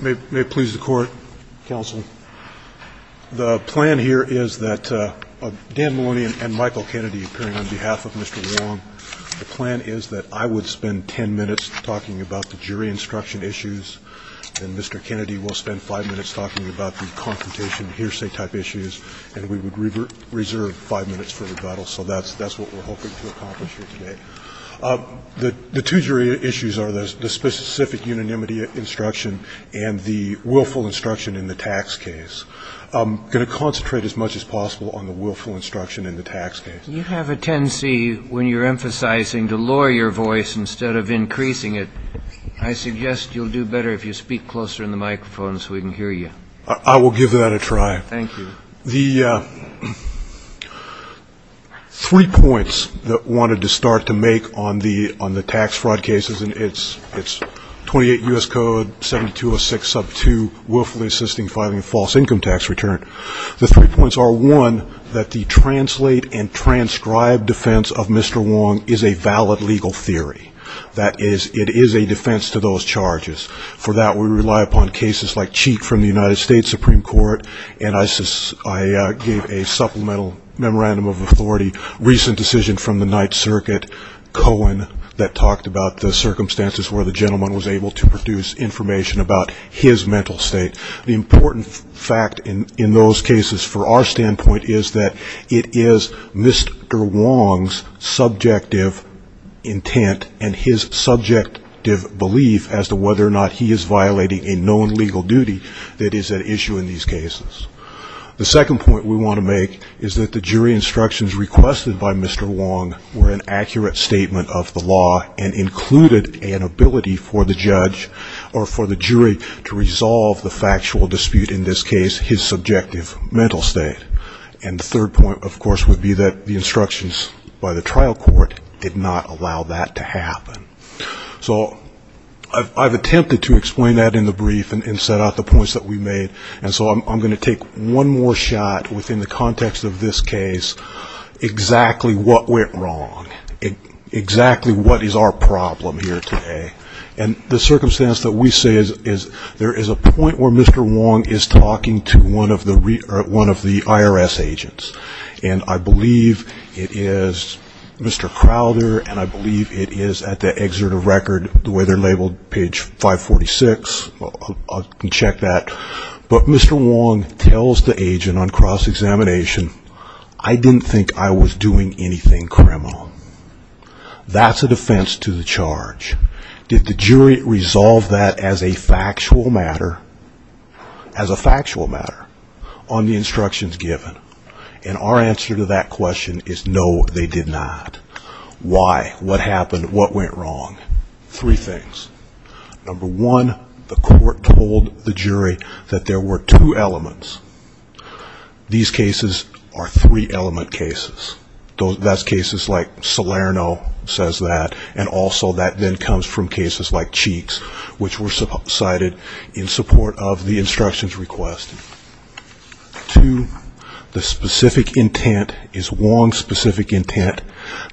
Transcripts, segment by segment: May it please the court, counsel. The plan here is that Dan Maloney and Michael Kennedy appearing on behalf of Mr. Wong, the plan is that I would spend 10 minutes talking about the jury instruction issues, and Mr. Kennedy will spend 5 minutes talking about the confrontation hearsay type issues, and we would reserve 5 minutes for rebuttal. So that's what we're hoping to accomplish here today. The two jury issues are the specific unanimity instruction and the willful instruction in the tax case. I'm going to concentrate as much as possible on the willful instruction in the tax case. You have a tendency when you're emphasizing to lower your voice instead of increasing it. I suggest you'll do better if you speak closer in the microphone so we can hear you. I will give that a try. The three points that I wanted to start to make on the tax fraud cases, and it's 28 U.S. Code 7206 sub 2, willfully assisting filing a false income tax return. The three points are, one, that the translate and transcribe defense of Mr. Wong is a valid legal theory. That is, it is a defense to those charges. For that, we rely upon cases like Cheek from the United States Supreme Court, and I gave a supplemental memorandum of authority, recent decision from the Ninth Circuit, Cohen, that talked about the circumstances where the gentleman was able to produce information about his mental state. The important fact in those cases for our standpoint is that it is Mr. Wong's subjective intent and his subjective belief as to whether or not he is violating a known legal duty that is at issue in these cases. The second point we want to make is that the jury instructions requested by Mr. Wong were an accurate statement of the law and included an ability for the judge or for the jury to resolve the factual dispute in this case, his subjective mental state. And the third point, of course, would be that the instructions by the trial court did not allow that to happen. So I've attempted to explain that in the brief and set out the points that we made, and so I'm going to take one more shot within the context of this case, exactly what went wrong, exactly what is our problem here today. And the circumstance that we say is there is a point where Mr. Wong is talking to one of the IRS agents, and I believe it is Mr. Crowder, and I believe it is at the excerpt of record, the way they're labeled, page 546. I can check that. But Mr. Wong tells the agent on cross-examination, I didn't think I was doing anything criminal. That's a defense to the charge. Did the jury resolve that as a factual matter on the instructions given? And our answer to that question is no, they did not. Why? What happened? What went wrong? Three things. Number one, the court told the jury that there were two elements. These cases are three-element cases. That's cases like Salerno says that, and also that then comes from cases like Cheeks, which were cited in support of the instructions requested. Two, the specific intent is Wong's specific intent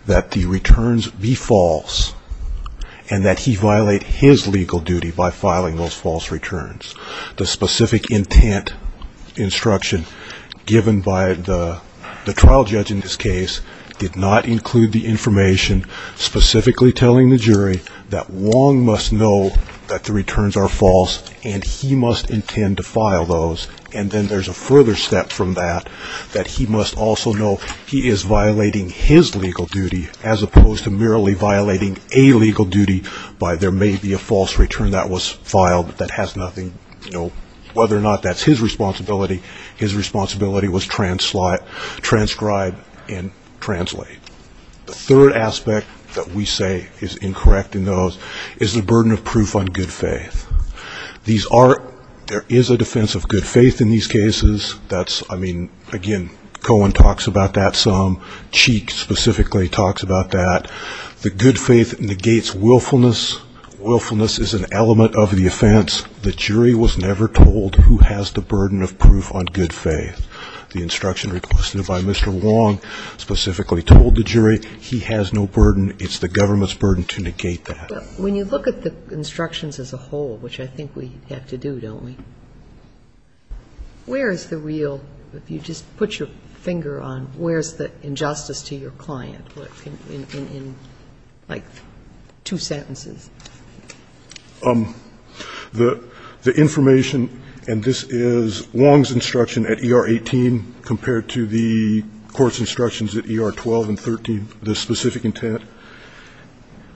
that the returns be false and that he violate his legal duty by filing those false returns. The specific intent instruction given by the trial judge in this case did not include the information specifically telling the jury that Wong must know that the returns are false and he must intend to file those. And then there's a further step from that, that he must also know he is violating his legal duty as opposed to merely violating a legal duty by there may be a false return that was filed that has nothing, you know, whether or not that's his responsibility. His responsibility was transcribe and translate. The third aspect that we say is incorrect in those is the burden of proof on good faith. These are, there is a defense of good faith in these cases. That's, I mean, again, Cohen talks about that some. Cheeks specifically talks about that. The good faith negates willfulness. Willfulness is an element of the offense. The jury was never told who has the burden of proof on good faith. The instruction requested by Mr. Wong specifically told the jury he has no burden. It's the government's burden to negate that. But when you look at the instructions as a whole, which I think we have to do, don't we, where is the real, if you just put your finger on, where is the injustice to your client in like two sentences? The information, and this is Wong's instruction at ER 18 compared to the court's instructions at ER 12 and 13, the specific intent,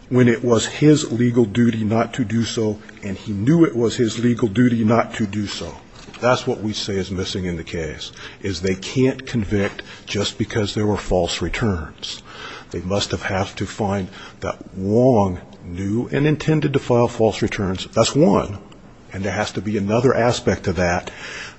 when it was his legal duty not to do so, and he knew it was his legal duty not to do so, that's what we say is missing in the case, is they can't convict just because there were false returns. They must have had to find that Wong knew and intended to file false returns. That's one. And there has to be another aspect of that,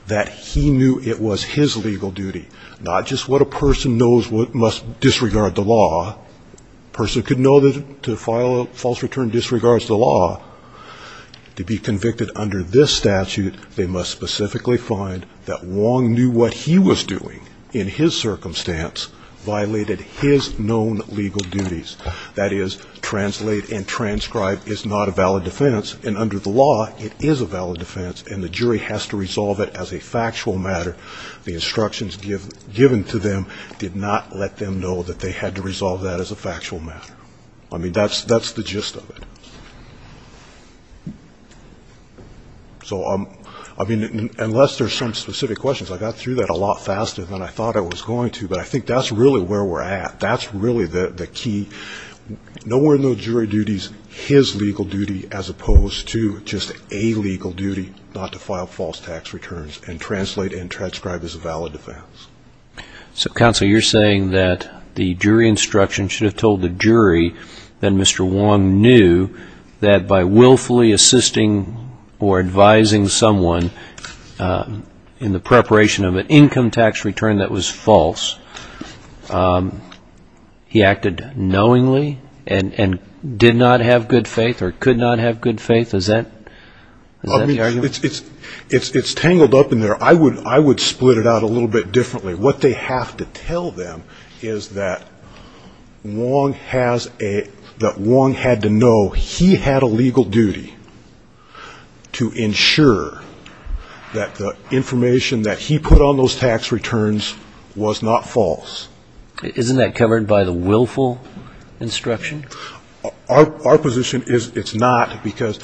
that he knew it was his legal duty, not just what a person knows must disregard the law. A person could know to file a false return disregards the law. To be convicted under this statute, they must specifically find that Wong knew what he was doing in his circumstance violated his known legal duties. That is, translate and transcribe is not a valid defense, and under the law, it is a valid defense, and the jury has to resolve it as a factual matter. The instructions given to them did not let them know that they had to resolve that as a factual matter. I mean, that's the gist of it. So, I mean, unless there's some specific questions, I got through that a lot faster than I thought I was going to, but I think that's really where we're at. That's really the key. Nowhere in those jury duties, his legal duty as opposed to just a legal duty not to file false tax returns and translate and transcribe is a valid defense. So, counsel, you're saying that the jury instruction should have told the jury that Mr. Wong knew that by willfully assisting or advising someone in the preparation of an income tax return that was false, he acted knowingly and did not have good faith or could not have good faith? Is that the argument? Well, it's tangled up in there. I would split it out a little bit differently. What they have to tell them is that Wong had to know he had a legal duty to ensure that the information that he put on those tax returns was not false. Isn't that covered by the willful instruction? Our position is it's not because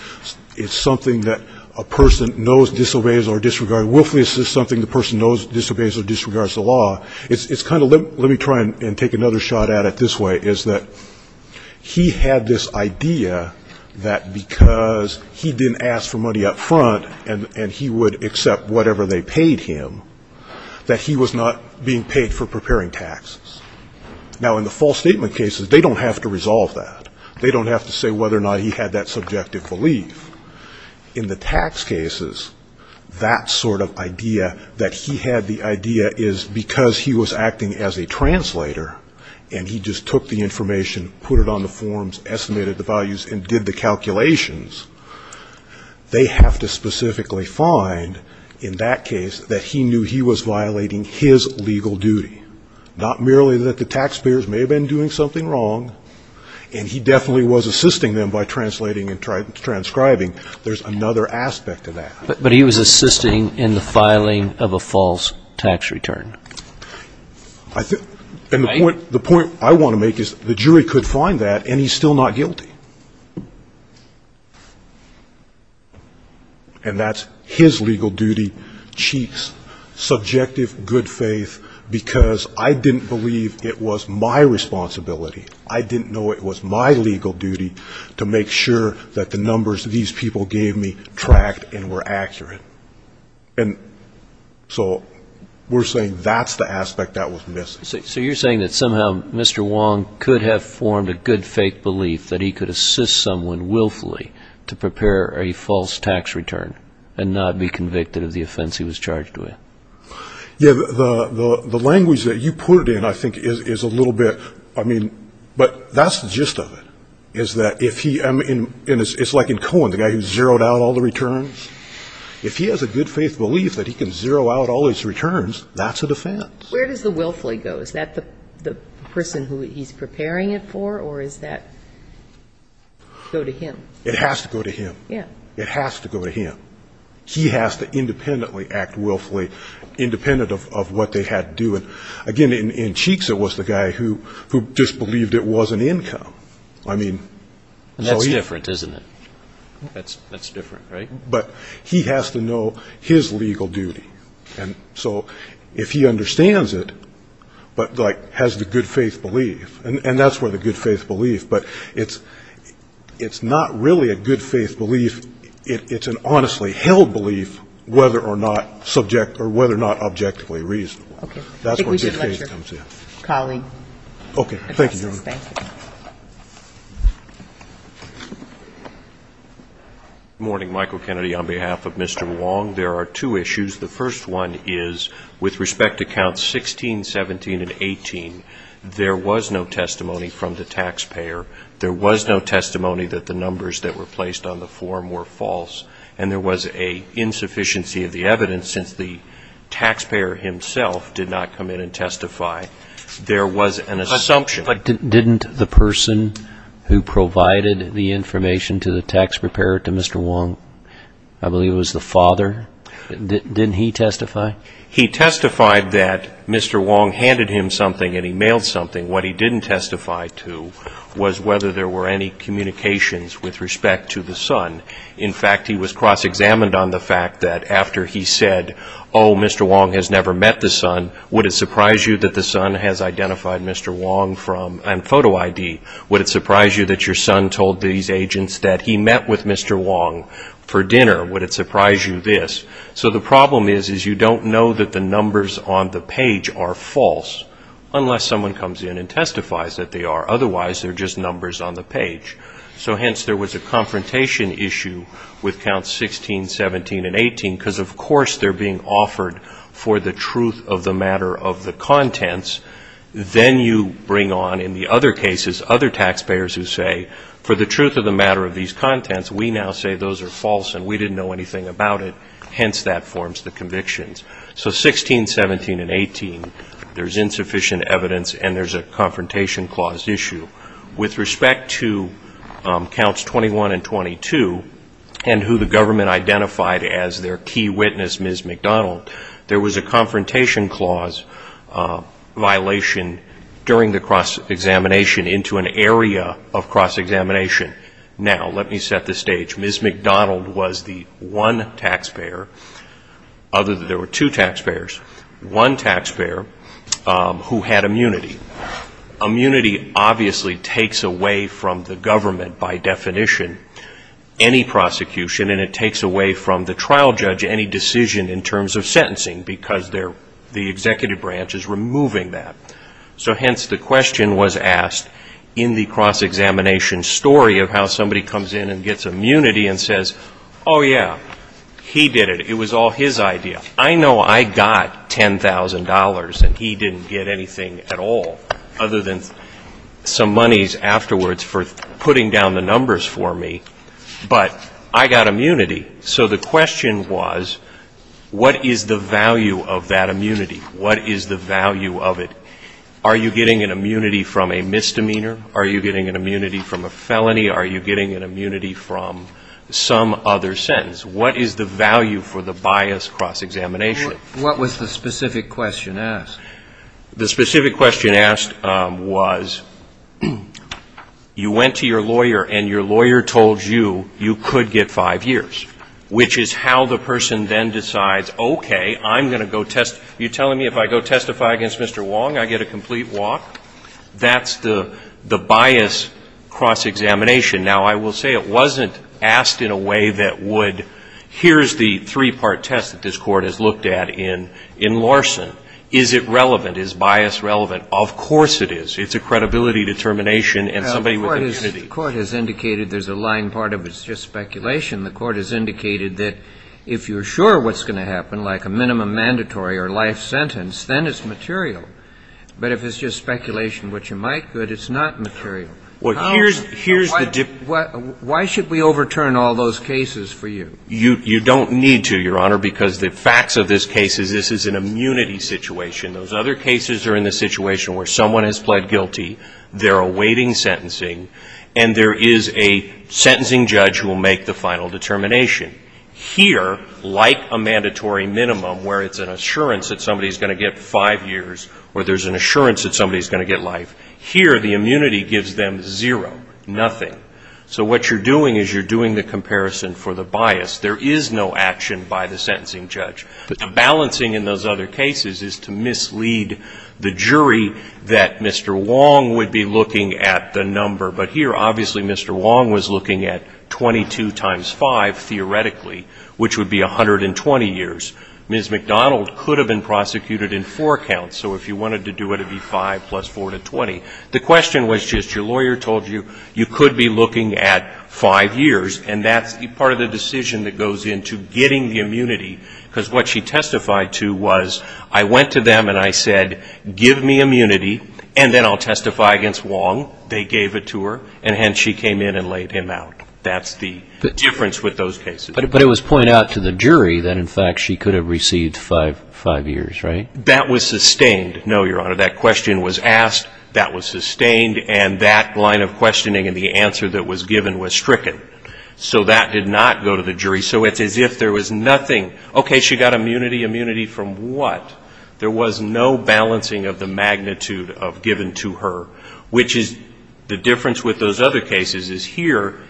it's something that a person knows disobeys or disregards. Willfully assist is something the person knows disobeys or disregards the law. It's kind of, let me try and take another shot at it this way, is that he had this idea that because he didn't ask for money up front and he would accept whatever they paid him, that he was not being paid for preparing taxes. Now, in the false statement cases, they don't have to resolve that. They don't have to say whether or not he had that subjective belief. In the tax cases, that sort of idea that he had, the idea is because he was acting as a translator and he just took the information, put it on the forms, estimated the values and did the calculations, they have to specifically find in that case that he knew he was violating his legal duty. Not merely that the taxpayers may have been doing something wrong and he definitely was assisting them by translating and transcribing. There's another aspect to that. But he was assisting in the filing of a false tax return. And the point I want to make is the jury could find that and he's still not guilty. And that's his legal duty, Cheek's subjective good faith, because I didn't believe it was my responsibility. I didn't know it was my legal duty to make sure that the numbers these people gave me tracked and were accurate. And so we're saying that's the aspect that was missing. So you're saying that somehow Mr. Wong could have formed a good faith belief that he could assist someone willfully to prepare a false tax return and not be convicted of the offense he was charged with? Yeah, the language that you put it in, I think, is a little bit, I mean, but that's the gist of it. Is that if he, it's like in Cohen, the guy who zeroed out all the returns. If he has a good faith belief that he can zero out all his returns, that's a defense. Where does the willfully go? Is that the person who he's preparing it for or does that go to him? It has to go to him. Yeah. It has to go to him. He has to independently act willfully, independent of what they had to do. And, again, in Cheek's it was the guy who just believed it was an income. I mean. That's different, isn't it? That's different, right? But he has to know his legal duty. And so if he understands it, but has the good faith belief, and that's where the good faith belief, but it's not really a good faith belief. It's an honestly held belief, whether or not subject or whether or not objectively reasonable. Okay. That's where good faith comes in. Colleague. Okay. Thank you. Good morning. Michael Kennedy on behalf of Mr. Wong. There are two issues. The first one is with respect to counts 16, 17, and 18, there was no testimony from the taxpayer. There was no testimony that the numbers that were placed on the form were false. And there was an insufficiency of the evidence since the taxpayer himself did not come in and testify. There was an assumption. But didn't the person who provided the information to the taxpayer, to Mr. Wong, I believe it was the father, didn't he testify? He testified that Mr. Wong handed him something and he mailed something. What he didn't testify to was whether there were any communications with respect to the son. In fact, he was cross-examined on the fact that after he said, oh, Mr. Wong has never met the son, would it surprise you that the son has identified Mr. Wong and photo ID? Would it surprise you that your son told these agents that he met with Mr. Wong for dinner? Would it surprise you this? So the problem is you don't know that the numbers on the page are false unless someone comes in and testifies that they are. Otherwise, they're just numbers on the page. So hence there was a confrontation issue with counts 16, 17, and 18, because of course they're being offered for the truth of the matter of the contents. Then you bring on, in the other cases, other taxpayers who say, for the truth of the matter of these contents, we now say those are false and we didn't know anything about it. Hence that forms the convictions. So 16, 17, and 18, there's insufficient evidence and there's a confrontation clause issue. With respect to counts 21 and 22, and who the government identified as their key witness, Ms. McDonald, there was a confrontation clause violation during the cross-examination into an area of cross-examination. Now, let me set the stage. Ms. McDonald was the one taxpayer, other than there were two taxpayers, one taxpayer who had immunity. Immunity obviously takes away from the government, by definition, any prosecution, and it takes away from the trial judge any decision in terms of sentencing, because the executive branch is removing that. So hence the question was asked in the cross-examination story of how somebody comes in and gets immunity and says, oh yeah, he did it, it was all his idea. I know I got $10,000 and he didn't get anything at all, other than some monies afterwards for putting down the numbers for me, but I got immunity. So the question was, what is the value of that immunity? What is the value of it? Are you getting an immunity from a misdemeanor? Are you getting an immunity from a felony? Are you getting an immunity from some other sentence? What is the value for the bias cross-examination? What was the specific question asked? The specific question asked was, you went to your lawyer and your lawyer told you you could get five years, which is how the person then decides, okay, I'm going to go test. You're telling me if I go testify against Mr. Wong, I get a complete walk? That's the bias cross-examination. Now, I will say it wasn't asked in a way that would, here's the three-part test that this Court has looked at in Larson. Is it relevant? Is bias relevant? Of course it is. It's a credibility determination and somebody with immunity. The Court has indicated there's a lying part of it. It's just speculation. The Court has indicated that if you're sure what's going to happen, like a minimum mandatory or life sentence, then it's material. But if it's just speculation, which you might, good, it's not material. Why should we overturn all those cases for you? You don't need to, Your Honor, because the facts of this case is this is an immunity situation. Those other cases are in the situation where someone has pled guilty, they're awaiting sentencing, and there is a sentencing judge who will make the final determination. Here, like a mandatory minimum where it's an assurance that somebody is going to get five years or there's an assurance that somebody is going to get life, here the immunity gives them zero, nothing. So what you're doing is you're doing the comparison for the bias. There is no action by the sentencing judge. The balancing in those other cases is to mislead the jury that Mr. Wong would be looking at the number. But here, obviously, Mr. Wong was looking at 22 times 5, theoretically, which would be 120 years. Ms. McDonald could have been prosecuted in four counts. So if you wanted to do it, it would be 5 plus 4 to 20. The question was just your lawyer told you you could be looking at five years, and that's part of the decision that goes into getting the immunity. Because what she testified to was I went to them and I said, give me immunity, and then I'll testify against Wong. They gave it to her, and hence she came in and laid him out. That's the difference with those cases. But it was pointed out to the jury that, in fact, she could have received five years, right? That was sustained. No, Your Honor, that question was asked, that was sustained, and that line of questioning and the answer that was given was stricken. So that did not go to the jury. So it's as if there was nothing. Okay, she got immunity. Immunity from what? There was no balancing of the magnitude of given to her, which is the difference with those other cases is here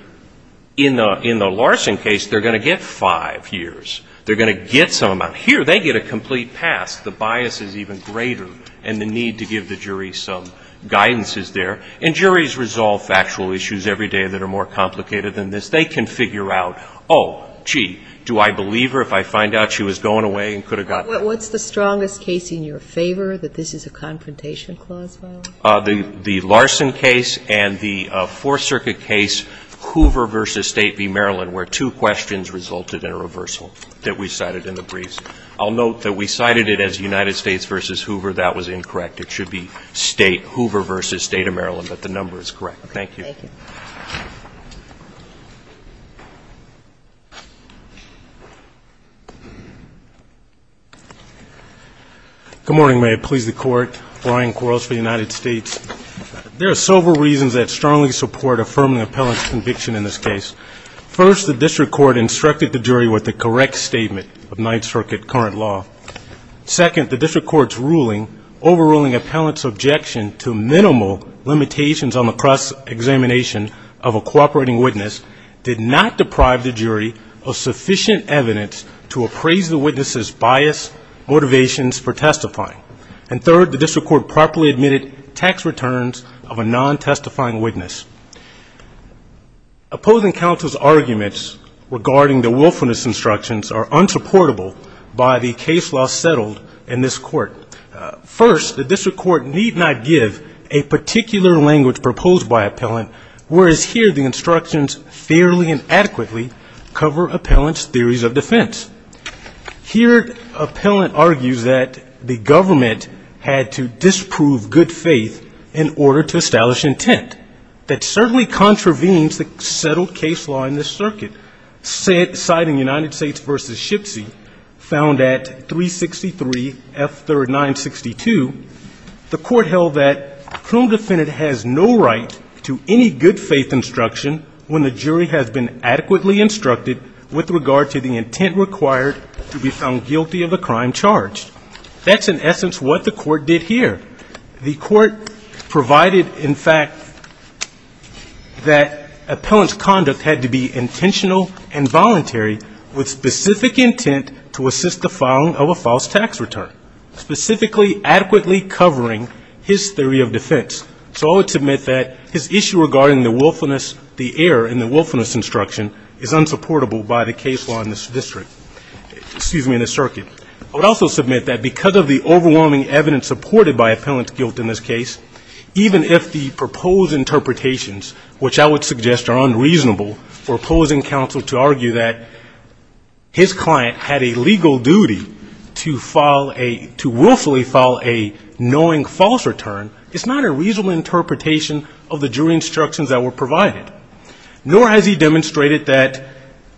in the Larson case, they're going to get five years. They're going to get some amount. Here they get a complete pass. The bias is even greater and the need to give the jury some guidance is there. And juries resolve factual issues every day that are more complicated than this. They can figure out, oh, gee, do I believe her if I find out she was going away and could have gotten it? What's the strongest case in your favor, that this is a confrontation clause, the Larson case and the Fourth Circuit case, Hoover v. State v. Maryland, where two questions resulted in a reversal that we cited in the briefs. I'll note that we cited it as United States v. Hoover. That was incorrect. It should be State, Hoover v. State of Maryland, but the number is correct. Thank you. Thank you. Good morning. May it please the Court. Brian Quarles for the United States. There are several reasons that strongly support affirming an appellant's conviction in this case. First, the district court instructed the jury with the correct statement of Ninth Circuit current law. Second, the district court's ruling overruling appellant's objection to minimal limitations on the cross-examination of a cooperating witness did not deprive the jury of sufficient evidence to appraise the witness's bias, motivations for testifying. And third, the district court properly admitted tax returns of a non-testifying witness. Opposing counsel's arguments regarding the willfulness instructions are unsupportable by the case law settled in this court. First, the district court need not give a particular language proposed by appellant, whereas here the instructions fairly and adequately cover appellant's theories of defense. Here, appellant argues that the government had to disprove good faith in order to establish intent. That certainly contravenes the settled case law in this circuit. Citing United States v. Shipsy, found at 363F3962, the court held that criminal defendant has no right to any good faith instruction when the jury has been adequately instructed with regard to the intent required to be found guilty of a crime charged. That's in essence what the court did here. The court provided, in fact, that appellant's conduct had to be intentional and voluntary with specific intent to assist the filing of a false tax return, specifically adequately covering his theory of defense. So I would submit that his issue regarding the willfulness, the error in the willfulness instruction, is unsupportable by the case law in this district, excuse me, in this circuit. I would also submit that because of the overwhelming evidence supported by appellant's guilt in this case, even if the proposed interpretations, which I would suggest are unreasonable, for opposing counsel to argue that his client had a legal duty to file a, to willfully file a knowing false return, it's not a reasonable interpretation of the jury instructions that were provided, nor has he demonstrated that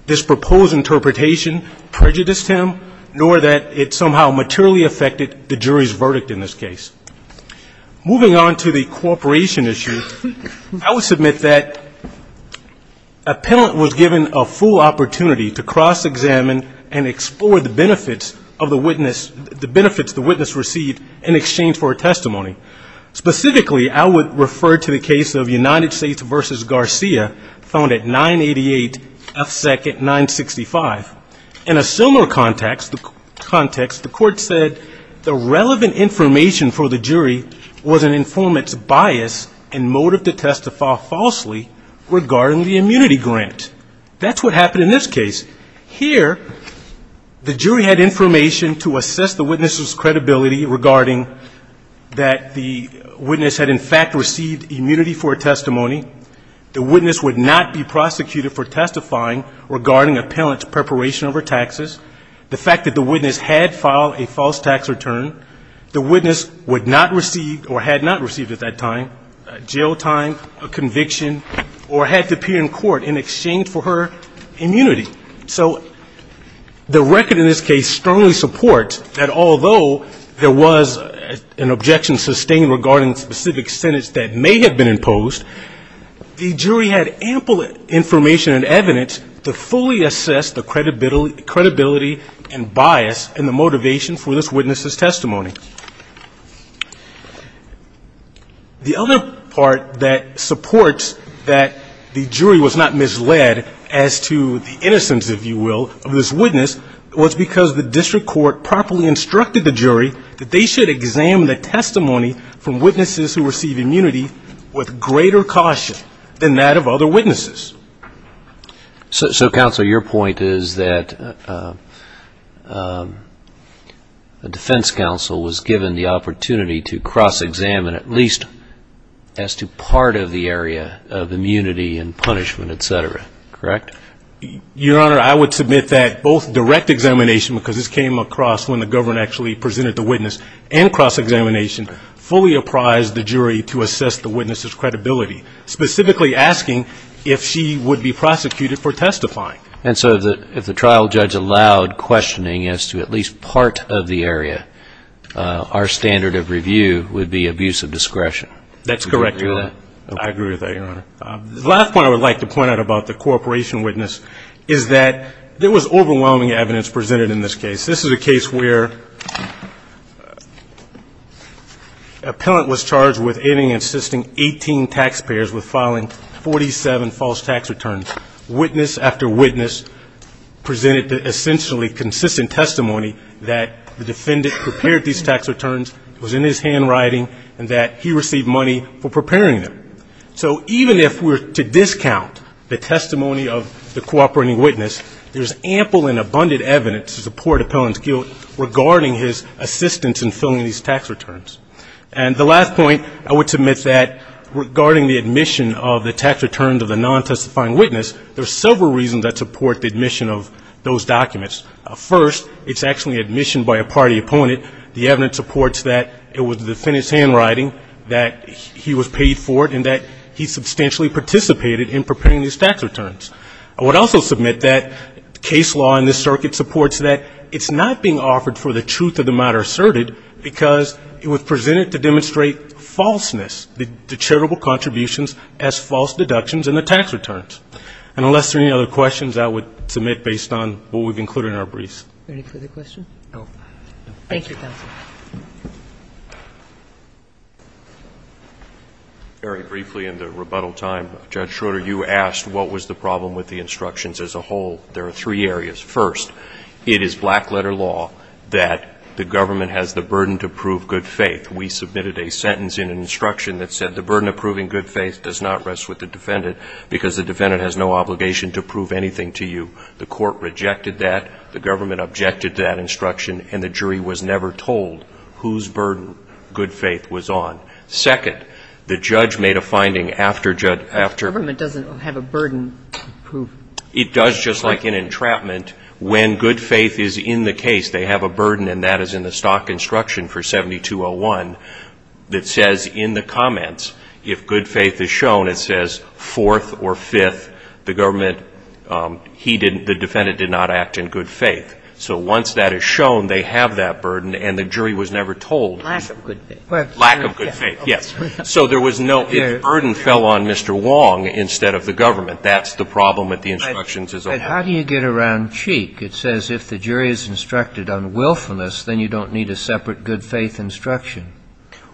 this proposed interpretation prejudiced him, nor that it somehow materially affected the jury's verdict in this case. Moving on to the cooperation issue, I would submit that appellant was given a full opportunity to cross-examine and explore the benefits of the witness, the benefits the witness received in exchange for a testimony. Specifically, I would refer to the case of United States v. Garcia, found at 988 FSEC at 965. In a similar context, the court said the relevant information for the jury was an informant's bias and motive to testify falsely regarding the immunity grant. That's what happened in this case. Here, the jury had information to assess the witness's credibility regarding that the witness had, in fact, received immunity for a testimony, the witness would not be prosecuted for testifying regarding appellant's preparation over taxes, the fact that the witness had filed a false tax return, the witness would not receive or had not received at that time a jail time, a conviction, or had to appear in court in exchange for her immunity. So the record in this case strongly supports that although there was an objection sustained regarding specific sentence that may have been imposed, the jury had ample information and evidence to fully assess the credibility and bias and the motivation for this witness's testimony. The other part that supports that the jury was not misled as to the innocence, if you will, of this witness, was because the district court properly instructed the jury that they should examine the testimony from witnesses who received immunity with greater caution than that of other witnesses. So, Counsel, your point is that the defense counsel was given the opportunity to cross-examine at least as to part of the area of immunity and punishment, et cetera, correct? Your Honor, I would submit that both direct examination, because this came across when the government actually presented the witness, and cross-examination fully apprised the jury to assess the witness's credibility, specifically asking if she would be prosecuted for testifying. And so if the trial judge allowed questioning as to at least part of the area, our standard of review would be abuse of discretion. That's correct, Your Honor. I agree with that, Your Honor. The last point I would like to point out about the cooperation witness is that there was overwhelming evidence presented in this case. This is a case where an appellant was charged with aiding and assisting 18 taxpayers with filing 47 false tax returns. Witness after witness presented the essentially consistent testimony that the defendant prepared these tax returns, was in his handwriting, and that he received money for preparing them. So even if we're to discount the testimony of the cooperating witness, there's ample and abundant evidence to support the appellant's guilt regarding his assistance in filling these tax returns. And the last point, I would submit that regarding the admission of the tax returns of the non-testifying witness, there's several reasons that support the admission of those documents. First, it's actually admission by a party opponent. The evidence supports that it was the defendant's handwriting, that he was paid for it, and that he substantially participated in preparing these tax returns. I would also submit that case law in this circuit supports that it's not being offered for the truth of the matter asserted because it was presented to demonstrate falseness, the charitable contributions as false deductions in the tax returns. And unless there are any other questions, I would submit based on what we've included in our briefs. No. Thank you, counsel. Very briefly in the rebuttal time, Judge Schroeder, you asked what was the problem with the instructions as a whole. There are three areas. First, it is black-letter law that the government has the burden to prove good faith. We submitted a sentence in an instruction that said the burden of proving good faith does not rest with the defendant because the defendant has no obligation to prove anything to you. The court rejected that. The government objected to that instruction. And the jury was never told whose burden good faith was on. Second, the judge made a finding after judge – The government doesn't have a burden to prove – It does, just like an entrapment. When good faith is in the case, they have a burden, and that is in the stock instruction for 7201 that says in the comments, if good faith is shown, it says fourth or fifth. The government – he didn't – the defendant did not act in good faith. So once that is shown, they have that burden, and the jury was never told. Lack of good faith. Lack of good faith, yes. So there was no – if burden fell on Mr. Wong instead of the government, that's the problem with the instructions as a whole. But how do you get around Cheek? It says if the jury is instructed on willfulness, then you don't need a separate good faith instruction.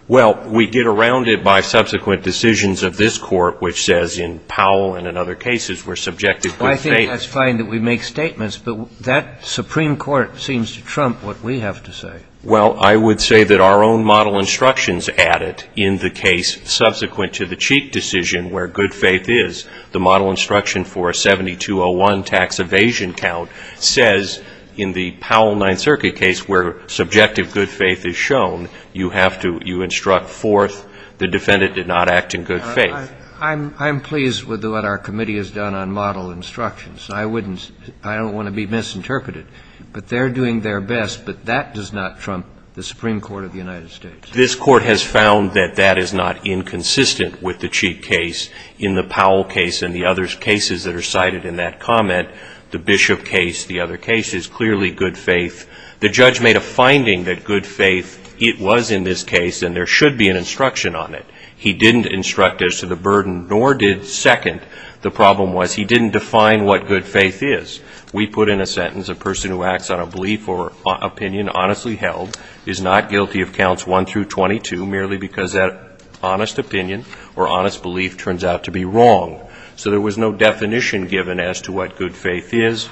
Well, we get around it by subsequent decisions of this Court, which says in Powell and in other cases where subjective good faith – I think that's fine that we make statements, but that Supreme Court seems to trump what we have to say. Well, I would say that our own model instructions add it in the case subsequent to the Cheek decision where good faith is. The model instruction for 7201 tax evasion count says in the Powell Ninth Circuit case where subjective good faith is shown, you have to – you instruct forth the defendant did not act in good faith. I'm pleased with what our committee has done on model instructions. I wouldn't – I don't want to be misinterpreted. But they're doing their best, but that does not trump the Supreme Court of the United States. This Court has found that that is not inconsistent with the Cheek case in the Powell case and the other cases that are cited in that comment, the Bishop case, the other cases, clearly good faith. The judge made a finding that good faith, it was in this case and there should be an instruction on it. He didn't instruct as to the burden nor did second. The problem was he didn't define what good faith is. We put in a sentence a person who acts on a belief or opinion honestly held is not guilty of counts 1 through 22 merely because that honest opinion or honest belief turns out to be wrong. So there was no definition given as to what good faith is.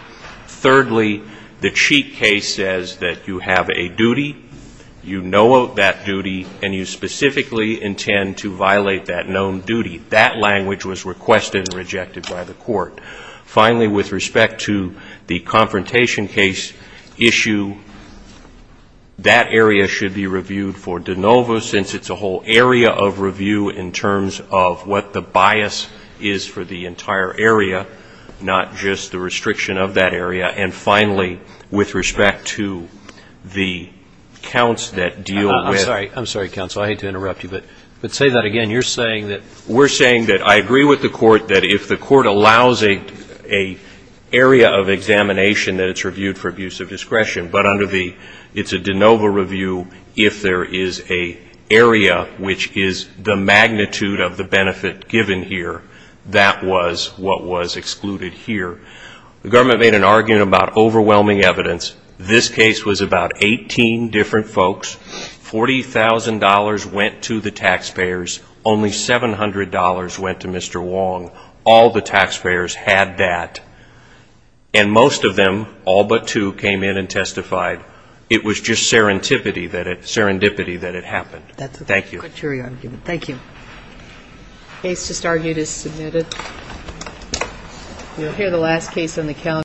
Thirdly, the Cheek case says that you have a duty, you know of that duty, and you specifically intend to violate that known duty. That language was requested and rejected by the court. Finally, with respect to the confrontation case issue, that area should be reviewed for de novo since it's a whole area of review in terms of what the bias is for the entire area, not just the restriction of that area. And finally, with respect to the counts that deal with ‑‑ I'm sorry. I'm sorry, counsel. I hate to interrupt you. But say that again. You're saying that ‑‑ We're saying that I agree with the court that if the court allows an area of examination that it's reviewed for abuse of discretion but under the ‑‑ it's a de novo review if there is an area which is the magnitude of the benefit given here, that was what was excluded here. The government made an argument about overwhelming evidence. This case was about 18 different folks. $40,000 went to the taxpayers. Only $700 went to Mr. Wong. All the taxpayers had that. And most of them, all but two, came in and testified. It was just serendipity that it happened. Thank you. Thank you. The case just argued is submitted. You'll hear the last case on the calendar.